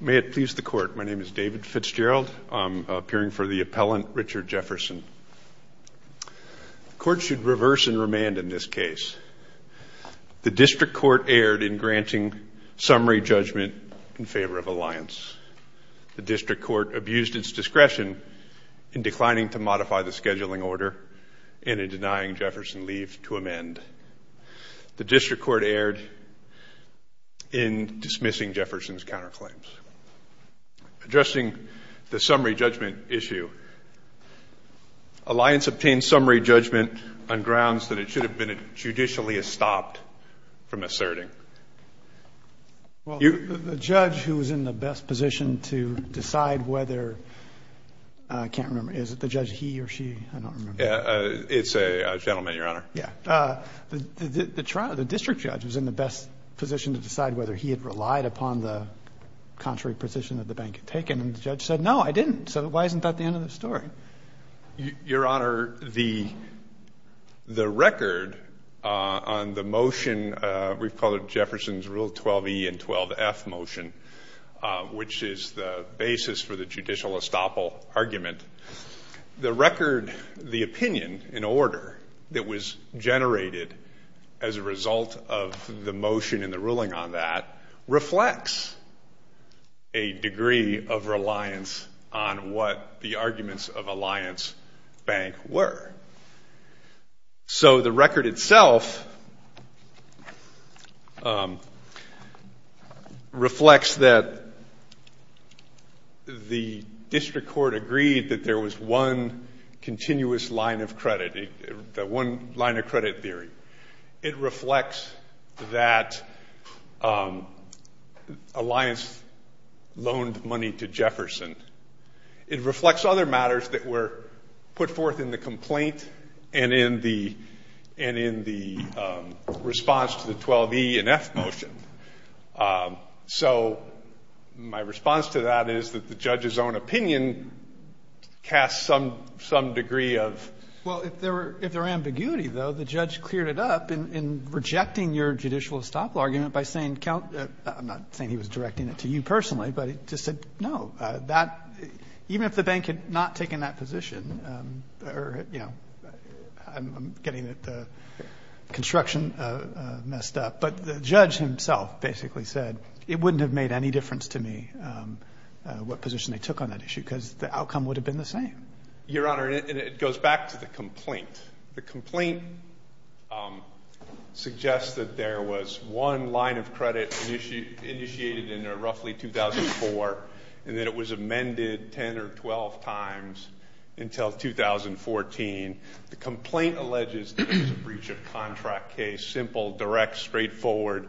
May it please the court, my name is David Fitzgerald, I'm appearing for the appellant Richard Jefferson. The court should reverse and remand in this case. The district court erred in granting summary judgment in favor of Alliance. The district court abused its discretion in declining to modify the scheduling order and in denying Jefferson leave to amend. The district court erred in dismissing Jefferson's counterclaims. Addressing the summary judgment issue, Alliance obtained summary judgment on grounds that it should have been judicially stopped from asserting. The judge who was in the best position to decide whether, I can't remember, is it the judge he or she? It's a gentleman your honor. Yeah, the district judge was in the best position to rely upon the contrary position that the bank had taken and the judge said no I didn't, so why isn't that the end of the story? Your honor, the record on the motion, we've called it Jefferson's Rule 12e and 12f motion, which is the basis for the judicial estoppel argument, the record, the opinion in order that was reflected a degree of reliance on what the arguments of Alliance Bank were. So the record itself reflects that the district court agreed that there was one line of credit theory. It reflects that Alliance loaned money to Jefferson. It reflects other matters that were put forth in the complaint and in the response to the 12e and f motion. So my response to that is that the judge's own cleared it up in rejecting your judicial estoppel argument by saying, I'm not saying he was directing it to you personally, but he just said no. Even if the bank had not taken that position, I'm getting the construction messed up, but the judge himself basically said it wouldn't have made any difference to me what position they took on that issue because the outcome would have been the same. Your honor, it goes back to the complaint. The complaint suggests that there was one line of credit initiated in roughly 2004 and that it was amended 10 or 12 times until 2014. The complaint alleges that it was a breach of contract case, simple, direct, straightforward,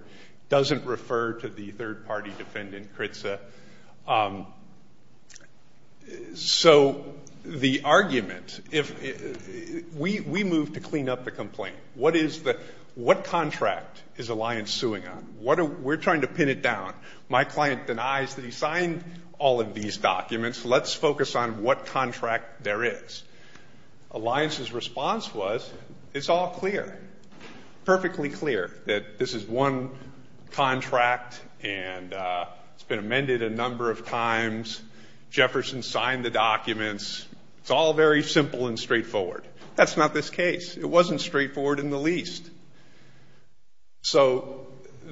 doesn't refer to the third party defendant, Kritza. So the argument, we moved to clean up the complaint. What contract is Alliance suing on? We're trying to pin it down. My client denies that he signed all of these documents. Let's focus on what contract there is. Alliance's response was, it's all clear. Perfectly clear that this is one contract and it's been amended a number of times. Jefferson signed the documents. It's all very simple and straightforward. That's not this case. It wasn't straightforward in the least. So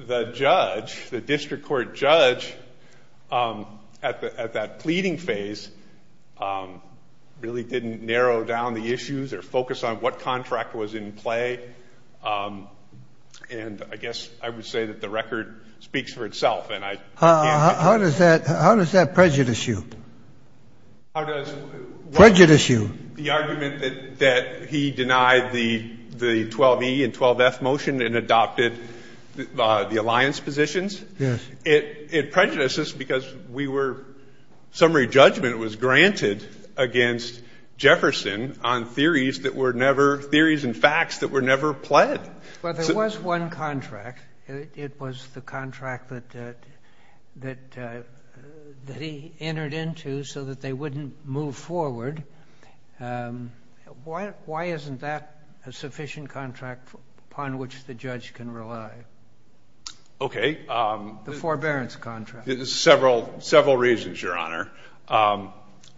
the judge, the district court judge at that pleading phase really didn't narrow down the issues or focus on what contract was in play. And I guess I would say that the record speaks for itself and I can't get to it. How does that prejudice you? The argument that he denied the 12E and 12B 12F motion and adopted the Alliance positions, it prejudices because we were, summary judgment was granted against Jefferson on theories that were never, theories and facts that were never pled. But there was one contract. It was the contract that he entered into so that they wouldn't move forward. Why isn't that a sufficient contract upon which the judge can rely? Okay. The forbearance contract. Several reasons, Your Honor.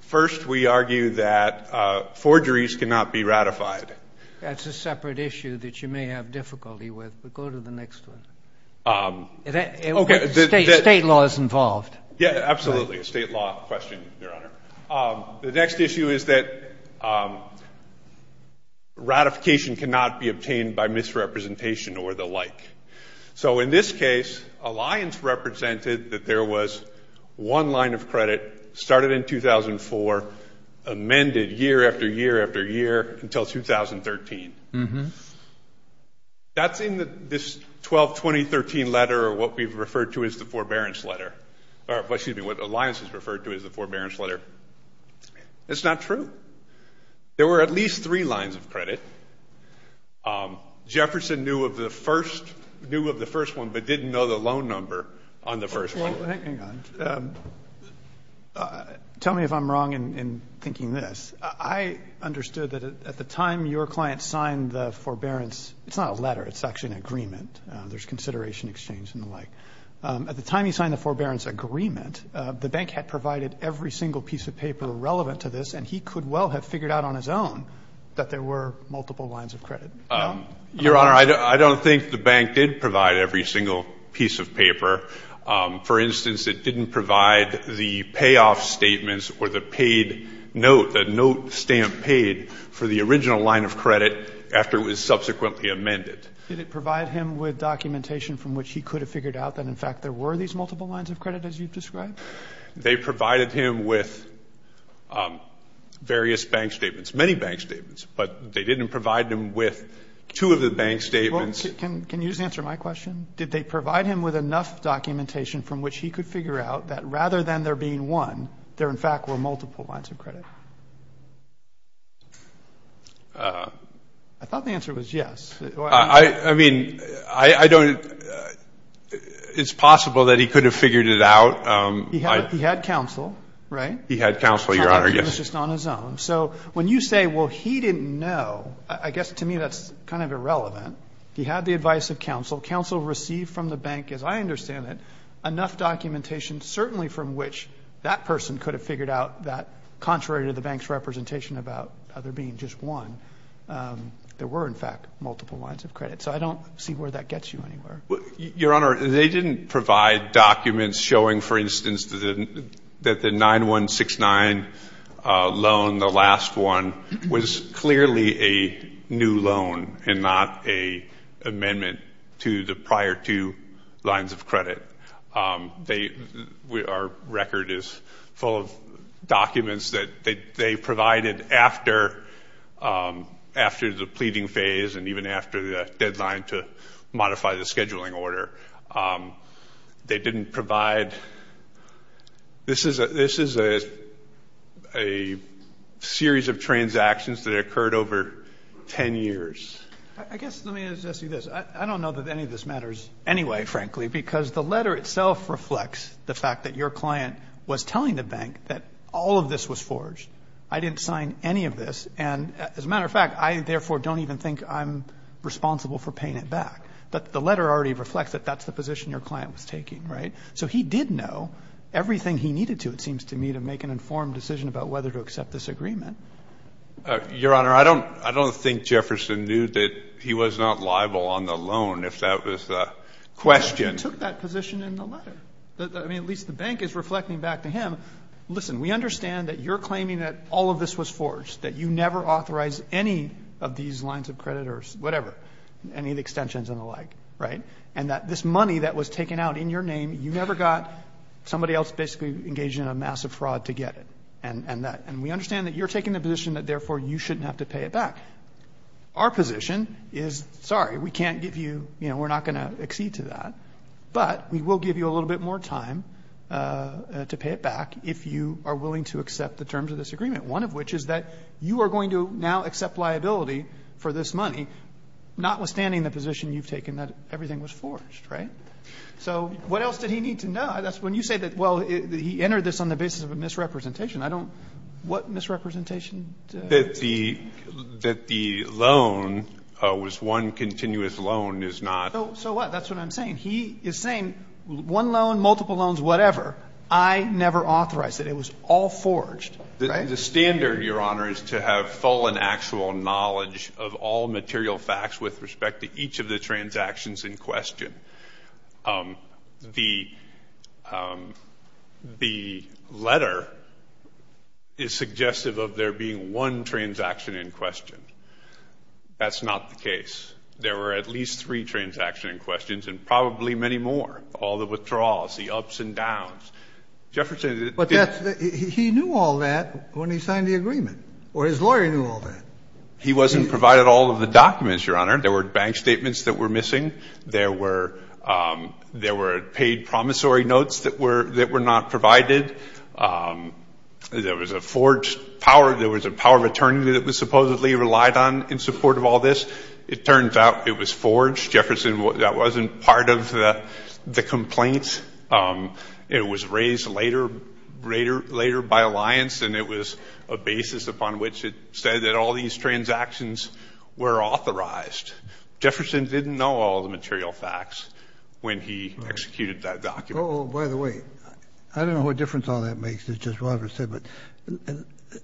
First, we argue that forgeries cannot be ratified. That's a separate issue that you may have difficulty with, but go to the next one. State law is involved. Yeah, absolutely. State law question, Your Honor. The next issue is that ratification cannot be obtained by misrepresentation or the like. So in this case, Alliance represented that there was one line of credit, started in 2004, amended year after year after year until 2013. That's in this 122013 letter or what we've referred to as the forbearance letter, or excuse me, what Alliance has referred to as the forbearance letter. It's not true. There were at least three lines of credit. Jefferson knew of the first, knew of the first one, but didn't know the loan number on the first one. Well, hang on. Tell me if I'm wrong in thinking this. I understood that at the time your client signed the forbearance, it's not a letter, it's actually an agreement. There's consideration exchange and the like. At the time he signed the forbearance agreement, the bank had provided every single piece of paper relevant to this, and he could well have figured out on his own that there were multiple lines of credit. Your Honor, I don't think the bank did provide every single piece of paper. For instance, it didn't provide the payoff statements or the paid note, the note stamp paid for the original line of credit after it was subsequently amended. Did it provide him with documentation from which he could have figured out that, in fact, there were these multiple lines of credit, as you've described? They provided him with various bank statements, many bank statements, but they didn't provide him with two of the bank statements. Well, can you just answer my question? Did they provide him with enough documentation from which he could figure out that rather than there being one, there, in fact, were multiple lines of credit? I thought the answer was yes. I mean, I don't – it's possible that he could have figured it out. He had counsel, right? He had counsel, Your Honor. He was just on his own. So when you say, well, he didn't know, I guess to me that's kind of irrelevant. He had the advice of counsel. Counsel received from the bank, as I understand it, enough documentation certainly from which that person could have figured out that contrary to the bank's representation about there being just one, there were, in fact, multiple lines of credit. So I don't see where that gets you anywhere. Your Honor, they didn't provide documents showing, for instance, that the 9169 loan, the last one, was clearly a new loan and not an amendment to the prior two lines of credit. Our record is full of documents that they provided after the pleading phase and even after the deadline to modify the scheduling order. They didn't provide – this is a series of transactions that occurred over 10 years. I guess let me ask you this. I don't know that any of this matters anyway, frankly, because the letter itself reflects the fact that your client was telling the bank that all of this was forged. I didn't sign any of this. And as a matter of fact, I therefore don't even think I'm responsible for paying it back. The letter already reflects that that's the position your client was taking, right? So he did know everything he needed to, it seems to me, to make an informed decision about whether to accept this agreement. Your Honor, I don't think Jefferson knew that he was not liable on the loan if that was the question. But he took that position in the letter. I mean, at least the bank is reflecting back to him, listen, we understand that you're claiming that all of this was forged, that you never authorized any of these lines of credit or whatever, any of the extensions and the like, right? And that this money that was taken out in your name, you never got somebody else basically engaging in a massive fraud to get it. And we understand that you're taking the position that therefore you shouldn't have to pay it back. Our position is, sorry, we can't give you, you know, we're not going to accede to that, but we will give you a little bit more time to pay it back if you are willing to accept the terms of this agreement, one of which is that you are going to now accept liability for this money, notwithstanding the position you've taken that everything was forged, right? So what else did he need to know? That's when you say that, well, he entered this on the basis of a misrepresentation. I don't, what misrepresentation? That the, that the loan was one continuous loan is not. So what? That's what I'm saying. He is saying one loan, multiple loans, whatever. I never authorized it. It was all forged. The standard, Your Honor, is to have full and actual knowledge of all material facts with respect to each of the transactions in question. The, the letter is suggestive of there being one transaction in question. That's not the case. There were at least three transactions in questions and probably many more. All the withdrawals, the ups and downs. Jefferson did. But that's, he knew all that when he signed the agreement, or his lawyer knew all that. He wasn't provided all of the documents, Your Honor. There were bank statements that were missing. There were, there were paid promissory notes that were, that were not provided. There was a forged power. There was a power of attorney that was supposedly relied on in support of all this. It turns out it was forged. Jefferson, that wasn't part of the, the complaints. It was raised later, later, later by Alliance. And it was a basis upon which it said that all these transactions were authorized. Jefferson didn't know all the material facts when he executed that document. Oh, by the way, I don't know what difference all that makes. It's just what I've ever said. But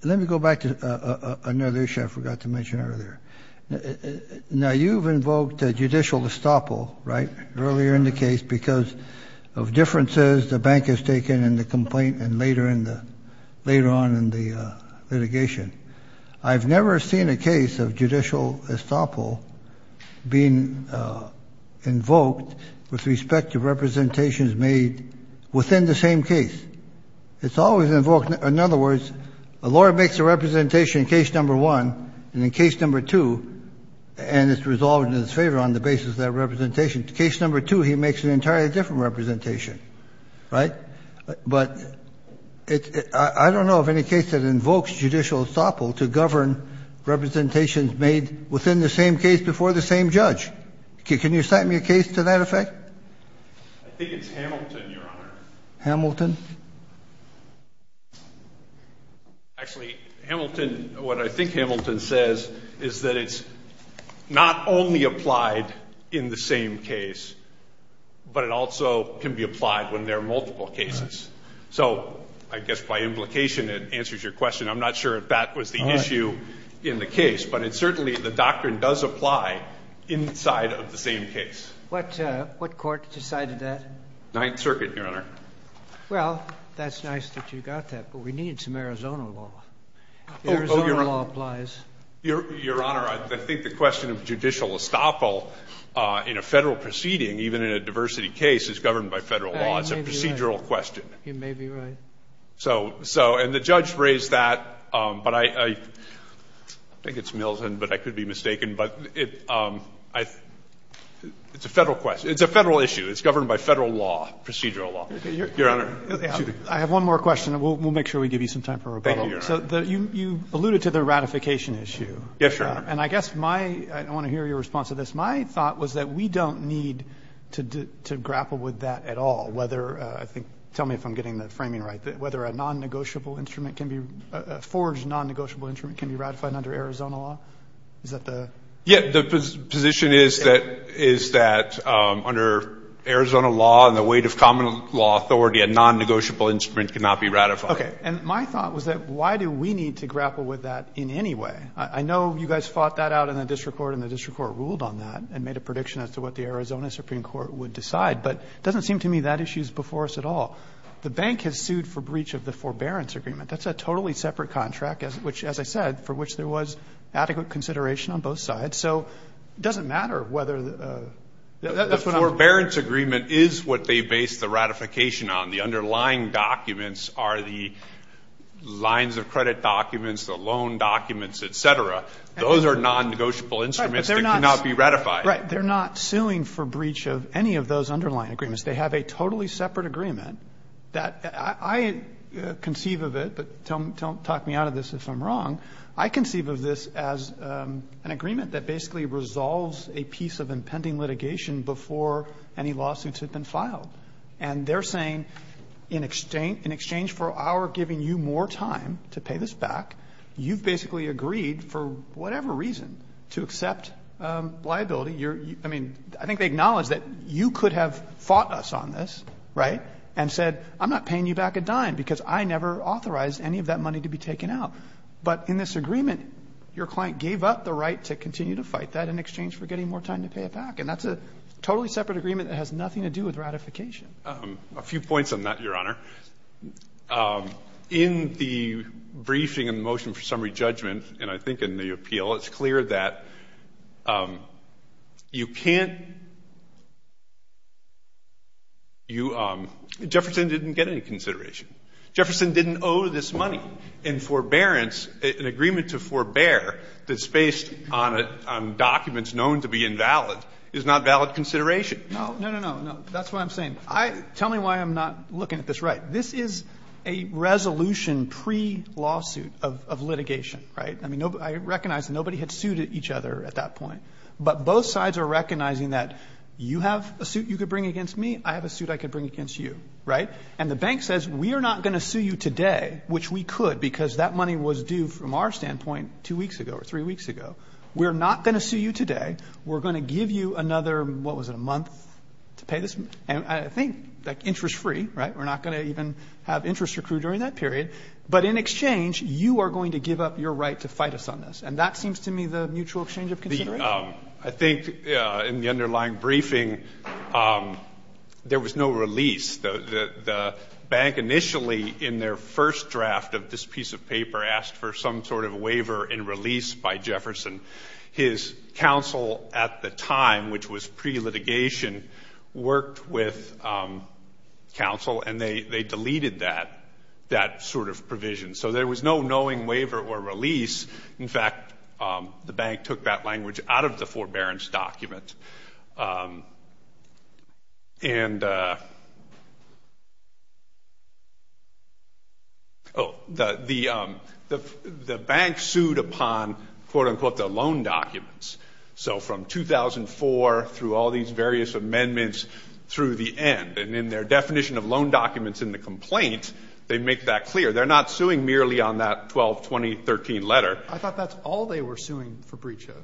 let me go back to another issue I forgot to mention earlier. Now you've invoked a judicial estoppel, right? Earlier in the case because of differences the bank has taken in the complaint and later in the, later on in the litigation. I've never seen a case of judicial estoppel being invoked with respect to representations made within the same case. It's always invoked. In other words, a lawyer makes a representation in case number one and in case number two, and it's resolved in his favor on the basis of that representation. Case number two, he makes an entirely different representation, right? But I don't know of any case that invokes judicial estoppel to govern representations made within the same case before the same judge. Can you cite me a case to that effect? I think it's Hamilton, Your Honor. Hamilton? Actually, Hamilton, what I think Hamilton says is that it's not only applied in the same case, but it also can be applied when there are multiple cases. So I guess by implication it answers your question. I'm not sure if that was the issue in the case, but it certainly, the doctrine does apply inside of the same case. What court decided that? Ninth Circuit, Your Honor. Well, that's nice that you got that, but we need some Arizona law. The Arizona law applies. Your Honor, I think the question of judicial estoppel in a Federal proceeding, even in a diversity case, is governed by Federal law. It's a procedural question. You may be right. So, and the judge raised that, but I think it's Milton, but I could be mistaken. But it's a Federal question. It's a Federal issue. It's governed by Federal law, procedural law. Your Honor. I have one more question, and we'll make sure we give you some time for rebuttal. Thank you, Your Honor. So you alluded to the ratification issue. Yes, Your Honor. And I guess my, I want to hear your response to this. My thought was that we don't need to grapple with that at all, whether, I think, tell me if I'm getting the framing right, whether a non-negotiable instrument can be, a forged non-negotiable instrument can be ratified under Arizona law? Is that the? Yeah. The position is that under Arizona law and the weight of common law authority, a non-negotiable instrument cannot be ratified. Okay. And my thought was that why do we need to grapple with that in any way? I know you guys fought that out in the district court, and the district court ruled on that and made a prediction as to what the Arizona Supreme Court would decide. But it doesn't seem to me that issue is before us at all. The bank has sued for breach of the forbearance agreement. That's a totally separate contract, which, as I said, for which there was adequate consideration on both sides. So it doesn't matter whether. The forbearance agreement is what they based the ratification on. The underlying documents are the lines of credit documents, the loan documents, et cetera. Those are non-negotiable instruments that cannot be ratified. Right. They're not suing for breach of any of those underlying agreements. They have a totally separate agreement that I conceive of it, but don't talk me out of this if I'm wrong. I conceive of this as an agreement that basically resolves a piece of impending litigation before any lawsuits have been filed. And they're saying in exchange for our giving you more time to pay this back, you've basically agreed for whatever reason to accept liability. I mean, I think they acknowledge that you could have fought us on this, right, and said I'm not paying you back a dime because I never authorized any of that money to be taken out. But in this agreement, your client gave up the right to continue to fight that in exchange for getting more time to pay it back. And that's a totally separate agreement that has nothing to do with ratification. A few points on that, Your Honor. In the briefing and the motion for summary judgment, and I think in the appeal, it's clear that you can't, you, Jefferson didn't get any consideration. Jefferson didn't owe this money. And forbearance, an agreement to forbear that's based on documents known to be invalid is not valid consideration. No, no, no, no. That's what I'm saying. Tell me why I'm not looking at this right. This is a resolution pre-lawsuit of litigation, right? I mean, I recognize that nobody had sued each other at that point. But both sides are recognizing that you have a suit you could bring against me. I have a suit I could bring against you, right? And the bank says we are not going to sue you today, which we could because that money was due from our standpoint two weeks ago or three weeks ago. We're not going to sue you today. We're going to give you another, what was it, a month to pay this? And I think, like, interest-free, right? We're not going to even have interest accrued during that period. But in exchange, you are going to give up your right to fight us on this. And that seems to me the mutual exchange of consideration. I think in the underlying briefing, there was no release. The bank initially, in their first draft of this piece of paper, asked for some sort of waiver and release by Jefferson. His counsel at the time, which was pre-litigation, worked with counsel, and they deleted that sort of provision. So there was no knowing waiver or release. In fact, the bank took that language out of the forbearance document. And the bank sued upon, quote, unquote, the loan documents. So from 2004 through all these various amendments through the end. And in their definition of loan documents in the complaint, they make that clear. They're not suing merely on that 122013 letter. I thought that's all they were suing for breach of.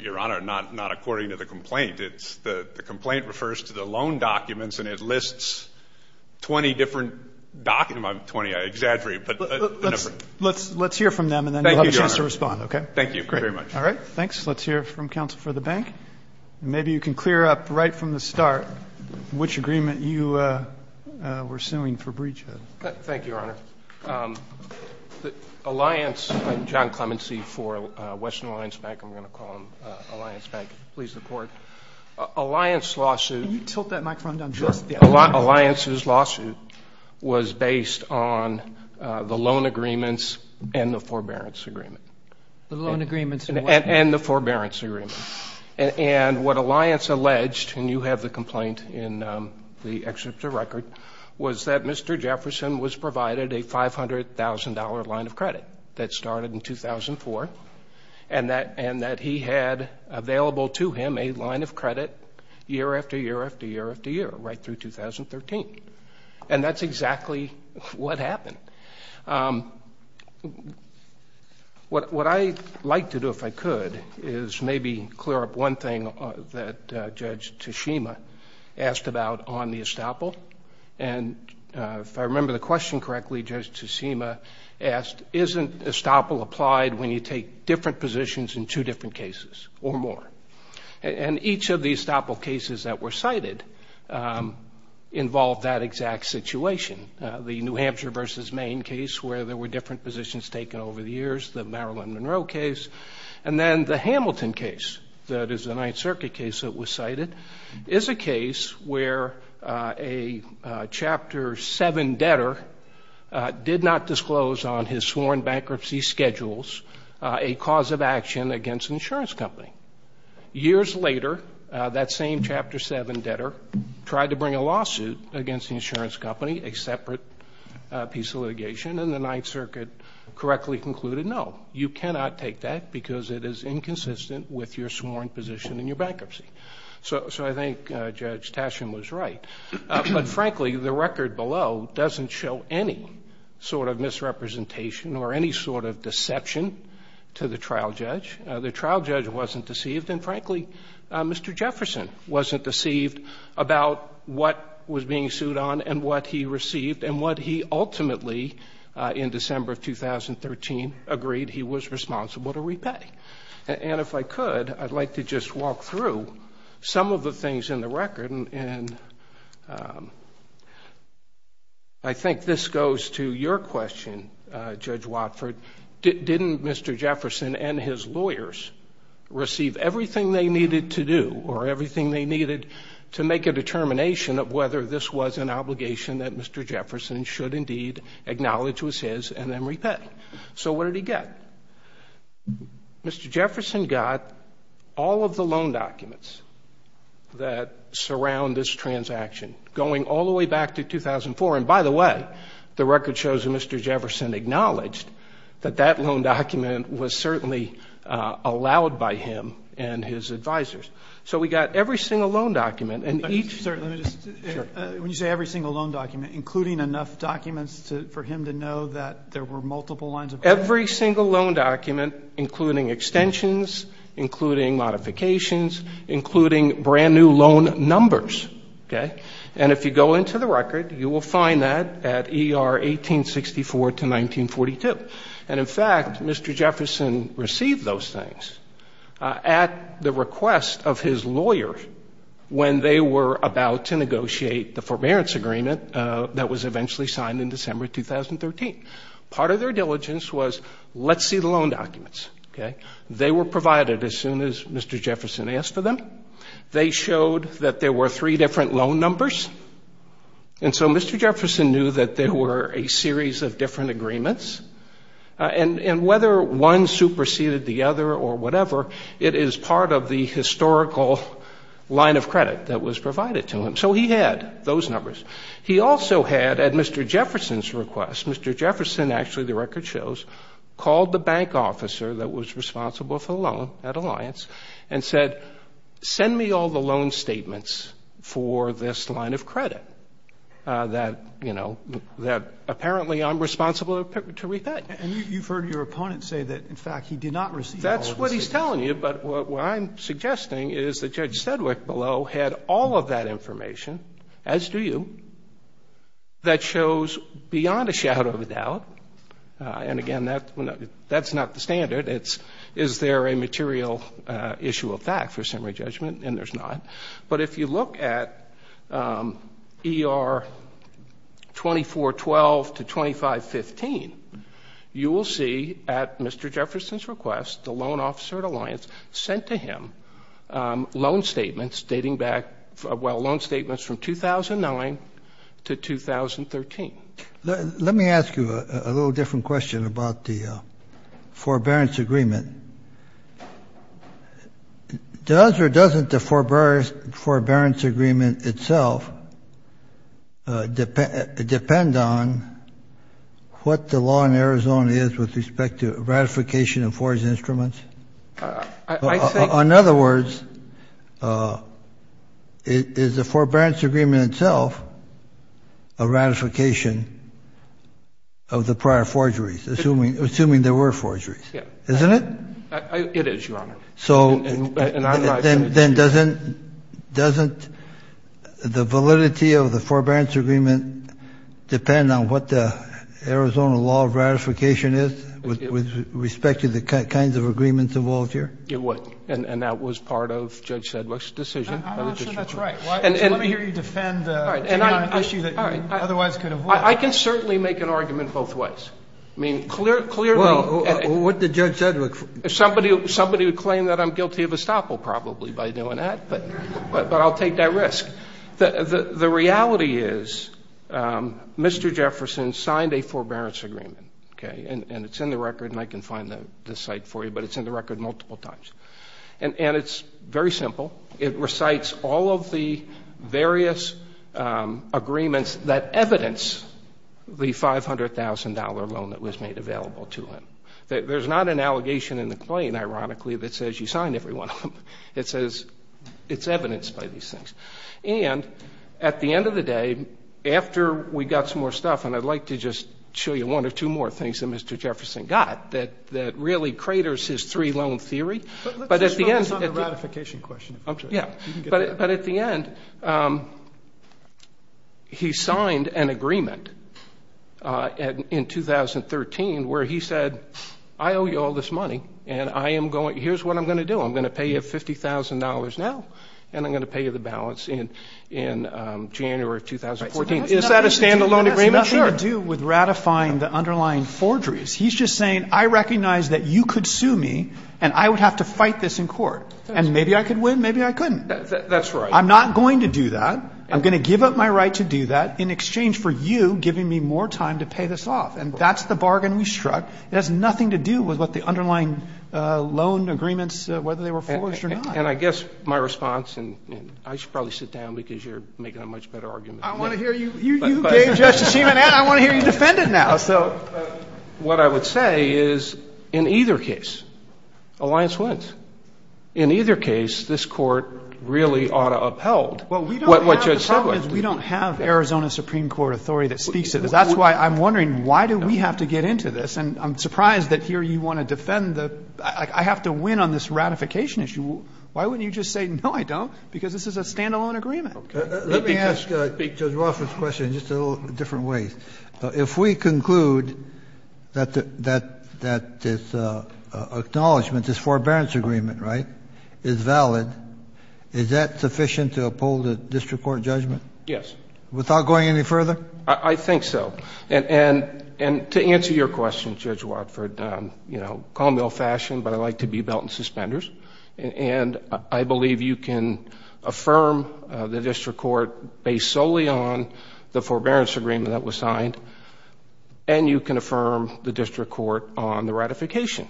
Your Honor, not according to the complaint. The complaint refers to the loan documents, and it lists 20 different documents 20, I exaggerate. Let's hear from them, and then you'll have a chance to respond, okay? Thank you, Your Honor. Thank you very much. All right. Thanks. Let's hear from counsel for the bank. Maybe you can clear up right from the start which agreement you were suing for breach of. Thank you, Your Honor. Alliance, I'm John Clemency for Western Alliance Bank. I'm going to call them Alliance Bank. Please support. Alliance lawsuit. Can you tilt that microphone down just a little bit? Alliance's lawsuit was based on the loan agreements and the forbearance agreement. The loan agreements and what? And the forbearance agreement. And what Alliance alleged, and you have the complaint in the excerpt of the record, was that Mr. Jefferson was provided a $500,000 line of credit that started in 2004 and that he had available to him a line of credit year after year after year after year right through 2013. And that's exactly what happened. What I'd like to do, if I could, is maybe clear up one thing that Judge Tsushima asked about on the estoppel. And if I remember the question correctly, Judge Tsushima asked, isn't estoppel applied when you take different positions in two different cases or more? And each of the estoppel cases that were cited involved that exact situation, the New Hampshire versus Maine case where there were different positions taken over the years, the Marilyn Monroe case. And then the Hamilton case, that is the Ninth Circuit case that was cited, is a case where a Chapter 7 debtor did not disclose on his sworn bankruptcy schedules a cause of action against an insurance company. Years later, that same Chapter 7 debtor tried to bring a lawsuit against the insurance company, a separate piece of litigation, and the Ninth Circuit correctly concluded, no, you cannot take that because it is inconsistent with your sworn position in your bankruptcy. So I think Judge Tsushima was right. But frankly, the record below doesn't show any sort of misrepresentation or any sort of deception to the trial judge. The trial judge wasn't deceived, and frankly, Mr. Jefferson wasn't deceived about what was being sued on and what he received and what he ultimately, in December of 2013, agreed he was responsible to repay. And if I could, I'd like to just walk through some of the things in the record. And I think this goes to your question, Judge Watford. Didn't Mr. Jefferson and his lawyers receive everything they needed to do or everything they needed to make a determination of whether this was an obligation that Mr. Jefferson should indeed acknowledge was his and then repay? So what did he get? Mr. Jefferson got all of the loan documents that surround this transaction going all the way back to 2004. And by the way, the record shows that Mr. Jefferson acknowledged that that loan document was certainly allowed by him and his advisors. So we got every single loan document and each – Sir, let me just – Sure. When you say every single loan document, including enough documents for him to know that there were multiple lines of credit? Every single loan document, including extensions, including modifications, including brand-new loan numbers, okay? And if you go into the record, you will find that at ER 1864 to 1942. And, in fact, Mr. Jefferson received those things at the request of his lawyer when they were about to negotiate the forbearance agreement that was eventually signed in December 2013. Part of their diligence was, let's see the loan documents, okay? They were provided as soon as Mr. Jefferson asked for them. They showed that there were three different loan numbers. And so Mr. Jefferson knew that there were a series of different agreements. And whether one superseded the other or whatever, it is part of the historical line of credit that was provided to him. So he had those numbers. He also had, at Mr. Jefferson's request, Mr. Jefferson, actually the record shows, called the bank officer that was responsible for the loan at Alliance and said, send me all the loan statements for this line of credit that, you know, that apparently I'm responsible to repay. And you've heard your opponent say that, in fact, he did not receive all of the statements. That's what he's telling you. But what I'm suggesting is that Judge Sedwick below had all of that information, as do you, that shows beyond a shadow of a doubt, and, again, that's not the standard. It's is there a material issue of fact for summary judgment? And there's not. But if you look at ER 2412 to 2515, you will see, at Mr. Jefferson's request, the loan officer at Alliance sent to him loan statements dating back, well, loan statements from 2009 to 2013. Let me ask you a little different question about the forbearance agreement. Does or doesn't the forbearance agreement itself depend on what the law in Arizona is with respect to ratification of forged instruments? In other words, is the forbearance agreement itself a ratification of the prior forgeries, assuming there were forgeries? Isn't it? It is, Your Honor. So then doesn't the validity of the forbearance agreement depend on what the Arizona law of ratification is with respect to the kinds of agreements involved here? It would. And that was part of Judge Sedwick's decision. I'm not sure that's right. Let me hear you defend the issue that you otherwise could have won. I can certainly make an argument both ways. Well, what did Judge Sedwick say? Somebody would claim that I'm guilty of estoppel probably by doing that, but I'll take that risk. The reality is Mr. Jefferson signed a forbearance agreement, okay? And it's in the record, and I can find the site for you, but it's in the record multiple times. And it's very simple. It recites all of the various agreements that evidence the $500,000 loan that was made available to him. There's not an allegation in the claim, ironically, that says you signed every one of them. It says it's evidenced by these things. And at the end of the day, after we got some more stuff, and I'd like to just show you one or two more things that Mr. Jefferson got that really craters his three-loan theory. But let's focus on the ratification question. I'm sorry. You can get to that. But at the end, he signed an agreement in 2013 where he said, I owe you all this money, and here's what I'm going to do. I'm going to pay you $50,000 now, and I'm going to pay you the balance in January of 2014. Is that a stand-alone agreement? Sure. It has nothing to do with ratifying the underlying forgeries. He's just saying, I recognize that you could sue me, and I would have to fight this in court. And maybe I could win, maybe I couldn't. That's right. I'm not going to do that. I'm going to give up my right to do that in exchange for you giving me more time to pay this off. And that's the bargain we struck. It has nothing to do with what the underlying loan agreements, whether they were forged or not. And I guess my response, and I should probably sit down because you're making a much better argument than me. I want to hear you. You gave Justice Schuman that. I want to hear you defend it now. What I would say is, in either case, alliance wins. In either case, this court really ought to upheld what Judge said. The problem is we don't have Arizona Supreme Court authority that speaks to this. So that's why I'm wondering, why do we have to get into this? And I'm surprised that here you want to defend the, I have to win on this ratification issue. Why wouldn't you just say, no, I don't, because this is a stand-alone agreement? Let me ask Judge Rothman's question in just a little different way. If we conclude that this acknowledgment, this forbearance agreement, right, is valid, is that sufficient to uphold a district court judgment? Yes. Without going any further? I think so. And to answer your question, Judge Watford, you know, call me old-fashioned, but I like to be belt and suspenders, and I believe you can affirm the district court based solely on the forbearance agreement that was signed, and you can affirm the district court on the ratification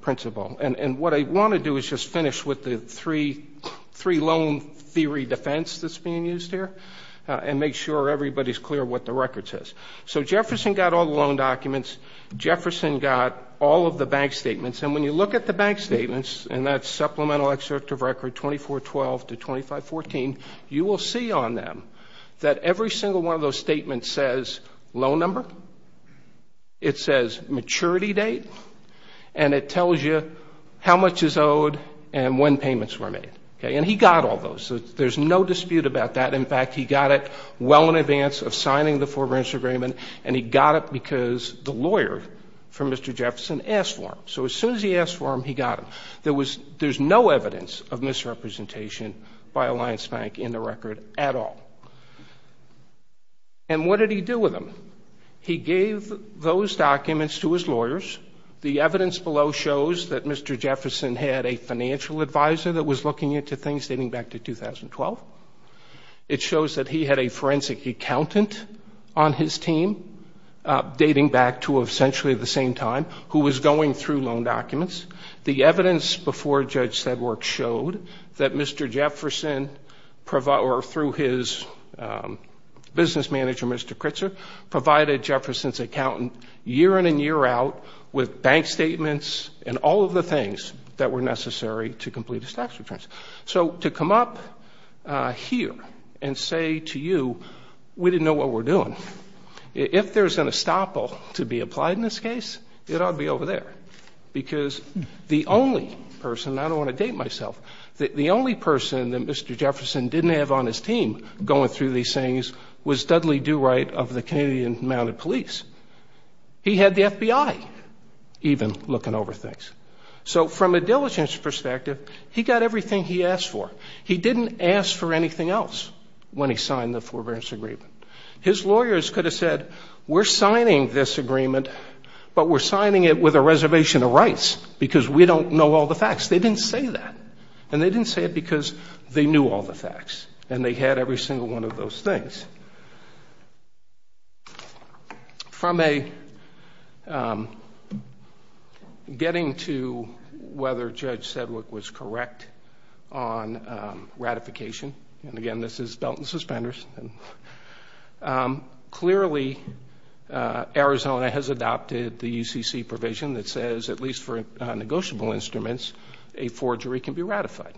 principle. And what I want to do is just finish with the three loan theory defense that's everybody's clear what the record says. So Jefferson got all the loan documents. Jefferson got all of the bank statements, and when you look at the bank statements, and that's supplemental excerpt of record 2412 to 2514, you will see on them that every single one of those statements says loan number, it says maturity date, and it tells you how much is owed and when payments were made. And he got all those. There's no dispute about that. In fact, he got it well in advance of signing the forbearance agreement, and he got it because the lawyer for Mr. Jefferson asked for him. So as soon as he asked for him, he got him. There's no evidence of misrepresentation by Alliance Bank in the record at all. And what did he do with them? He gave those documents to his lawyers. The evidence below shows that Mr. Jefferson had a financial advisor that was looking into things dating back to 2012. It shows that he had a forensic accountant on his team dating back to essentially the same time who was going through loan documents. The evidence before Judge Sedgwick showed that Mr. Jefferson, or through his business manager, Mr. Kritzer, provided Jefferson's accountant year in and year out with bank statements and all of the things that were necessary to complete his tax returns. So to come up here and say to you, we didn't know what we were doing, if there's an estoppel to be applied in this case, it ought to be over there. Because the only person, and I don't want to date myself, the only person that Mr. Jefferson didn't have on his team going through these things was Dudley Do-Right of the Canadian Mounted Police. He had the FBI even looking over things. So from a diligence perspective, he got everything he asked for. He didn't ask for anything else when he signed the forbearance agreement. His lawyers could have said, we're signing this agreement, but we're signing it with a reservation of rights because we don't know all the facts. They didn't say that, and they didn't say it because they knew all the facts, and they had every single one of those things. From a getting to whether Judge Sedwick was correct on ratification, and, again, this is belt and suspenders, clearly Arizona has adopted the UCC provision that says, at least for negotiable instruments, a forgery can be ratified.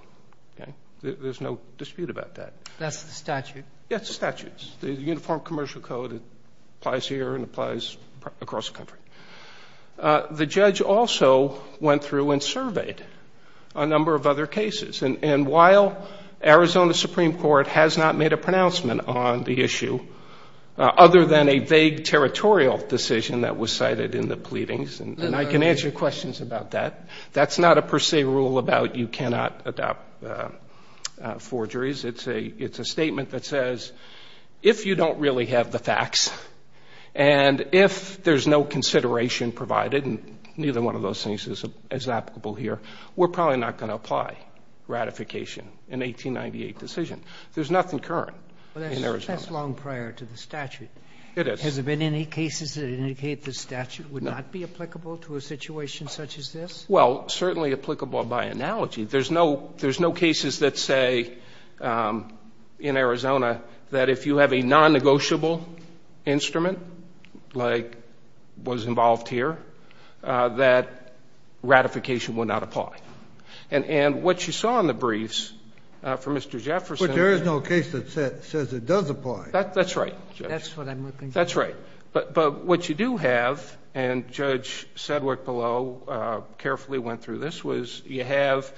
There's no dispute about that. That's the statute. Yes, the statute. The Uniform Commercial Code applies here and applies across the country. The judge also went through and surveyed a number of other cases, and while Arizona Supreme Court has not made a pronouncement on the issue, other than a vague territorial decision that was cited in the pleadings, and I can answer your questions about that, that's not a per se rule about you cannot adopt forgeries. It's a statement that says, if you don't really have the facts and if there's no consideration provided, and neither one of those things is applicable here, we're probably not going to apply ratification, an 1898 decision. There's nothing current in Arizona. That's long prior to the statute. It is. Has there been any cases that indicate the statute would not be applicable to a situation such as this? Well, certainly applicable by analogy. There's no cases that say, in Arizona, that if you have a non-negotiable instrument like was involved here, that ratification would not apply. And what you saw in the briefs from Mr. Jefferson. But there is no case that says it does apply. That's right, Judge. That's what I'm looking for. That's right. But what you do have, and Judge Sedgwick below carefully went through this, was you have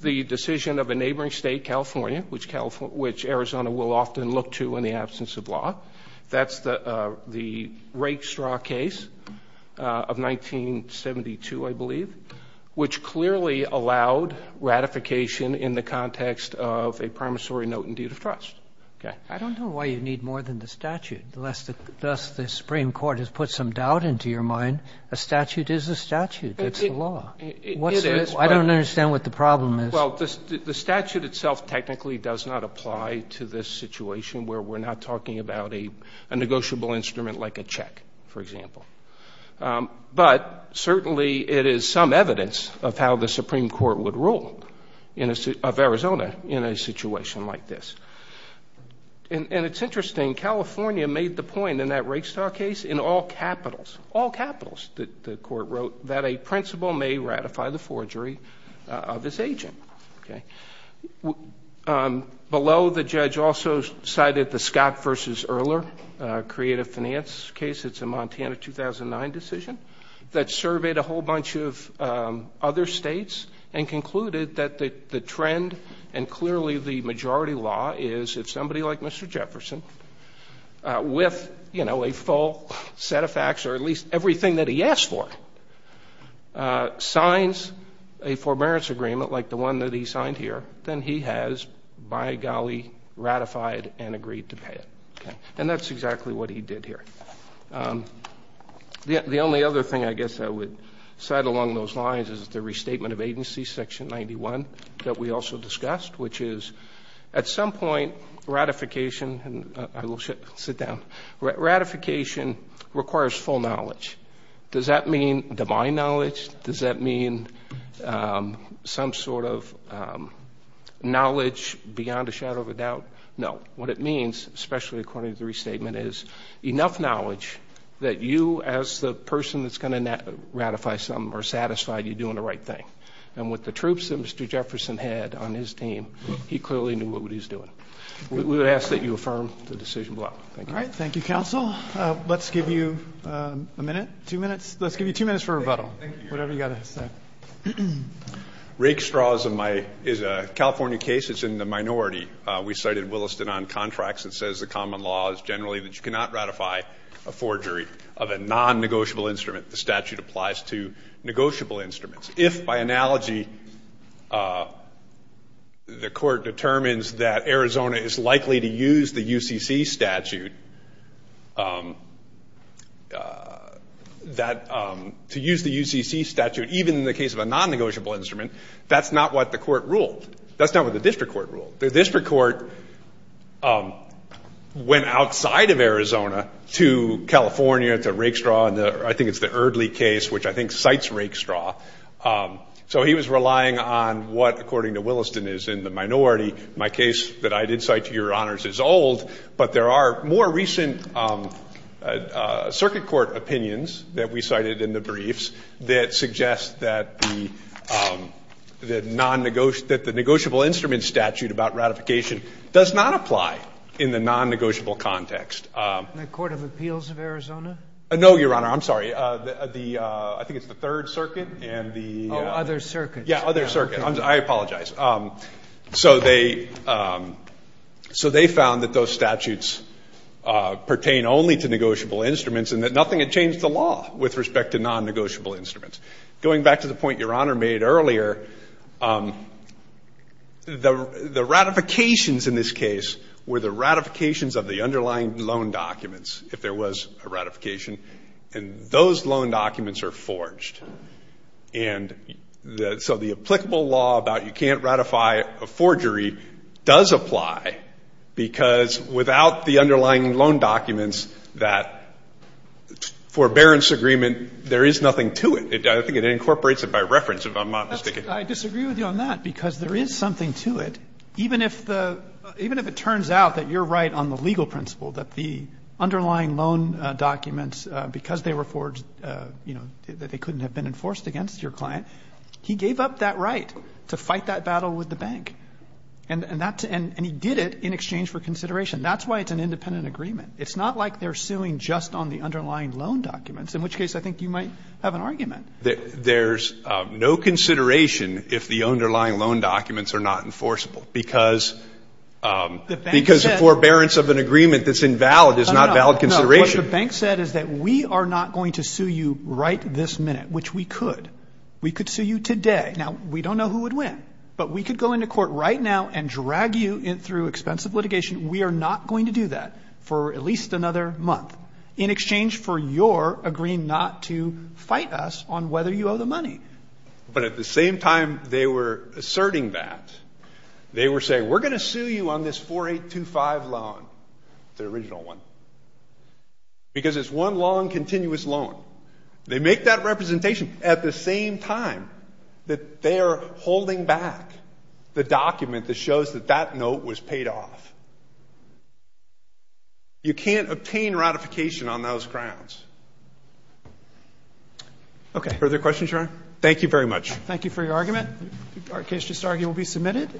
the decision of a neighboring state, California, which Arizona will often look to in the absence of law. That's the Rake Straw case of 1972, I believe, which clearly allowed ratification in the context of a promissory note and deed of trust. I don't know why you need more than the statute, lest thus the Supreme Court has put some doubt into your mind. A statute is a statute. It's the law. I don't understand what the problem is. Well, the statute itself technically does not apply to this situation where we're not talking about a negotiable instrument like a check, for example. But certainly it is some evidence of how the Supreme Court would rule of Arizona in a situation like this. And it's interesting. California made the point in that Rake Straw case, in all capitals, the court wrote, that a principal may ratify the forgery of his agent. Below, the judge also cited the Scott v. Erler creative finance case. It's a Montana 2009 decision that surveyed a whole bunch of other states and concluded that the trend and clearly the majority law is if somebody like Mr. Jefferson, with a full set of facts or at least everything that he asked for, signs a forbearance agreement like the one that he signed here, then he has, by golly, ratified and agreed to pay it. And that's exactly what he did here. The only other thing I guess I would cite along those lines is the restatement of agency, Section 91, that we also discussed, which is at some point ratification requires full knowledge. Does that mean divine knowledge? Does that mean some sort of knowledge beyond a shadow of a doubt? No. What it means, especially according to the restatement, is enough knowledge that you, as the person that's going to ratify something, are satisfied you're doing the right thing. And with the troops that Mr. Jefferson had on his team, he clearly knew what he was doing. We would ask that you affirm the decision below. Thank you. All right. Thank you, counsel. Let's give you a minute, two minutes. Let's give you two minutes for rebuttal, whatever you've got to say. Rake straw is a California case. It's in the minority. We cited Williston on contracts and says the common law is generally that you cannot ratify a forgery of a non-negotiable instrument. The statute applies to negotiable instruments. If, by analogy, the court determines that Arizona is likely to use the UCC statute, that to use the UCC statute, even in the case of a non-negotiable instrument, that's not what the court ruled. That's not what the district court ruled. The district court went outside of Arizona to California, to rake straw, and I think it's the Erdley case, which I think cites rake straw. So he was relying on what, according to Williston, is in the minority. My case that I did cite, Your Honors, is old, but there are more recent circuit court opinions that we cited in the briefs that suggest that the non-negotiable ‑‑ that the negotiable instrument statute about ratification does not apply in the non-negotiable context. The Court of Appeals of Arizona? No, Your Honor. I'm sorry. The ‑‑ I think it's the Third Circuit and the ‑‑ Oh, Other Circuit. Yeah, Other Circuit. I apologize. So they found that those statutes pertain only to negotiable instruments and that nothing had changed the law with respect to non-negotiable instruments. Going back to the point Your Honor made earlier, the ratifications in this case were of the underlying loan documents, if there was a ratification, and those loan documents are forged. And so the applicable law about you can't ratify a forgery does apply because without the underlying loan documents, that forbearance agreement, there is nothing to it. I think it incorporates it by reference, if I'm not mistaken. I disagree with you on that because there is something to it. Even if the ‑‑ even if it turns out that you're right on the legal principle that the underlying loan documents, because they were forged, you know, that they couldn't have been enforced against your client, he gave up that right to fight that battle with the bank. And that's ‑‑ and he did it in exchange for consideration. That's why it's an independent agreement. It's not like they're suing just on the underlying loan documents, in which case I think you might have an argument. There's no consideration if the underlying loan documents are not enforceable because the forbearance of an agreement that's invalid is not valid consideration. What the bank said is that we are not going to sue you right this minute, which we could. We could sue you today. Now, we don't know who would win, but we could go into court right now and drag you through expensive litigation. We are not going to do that for at least another month in exchange for your agreeing not to fight us on whether you owe the money. But at the same time they were asserting that, they were saying we're going to sue you on this 4825 loan, the original one, because it's one long, continuous loan. They make that representation at the same time that they are holding back the document that shows that that note was paid off. You can't obtain ratification on those grounds. Okay. Further questions, Your Honor? Thank you very much. Thank you for your argument. Our case just argued will be submitted.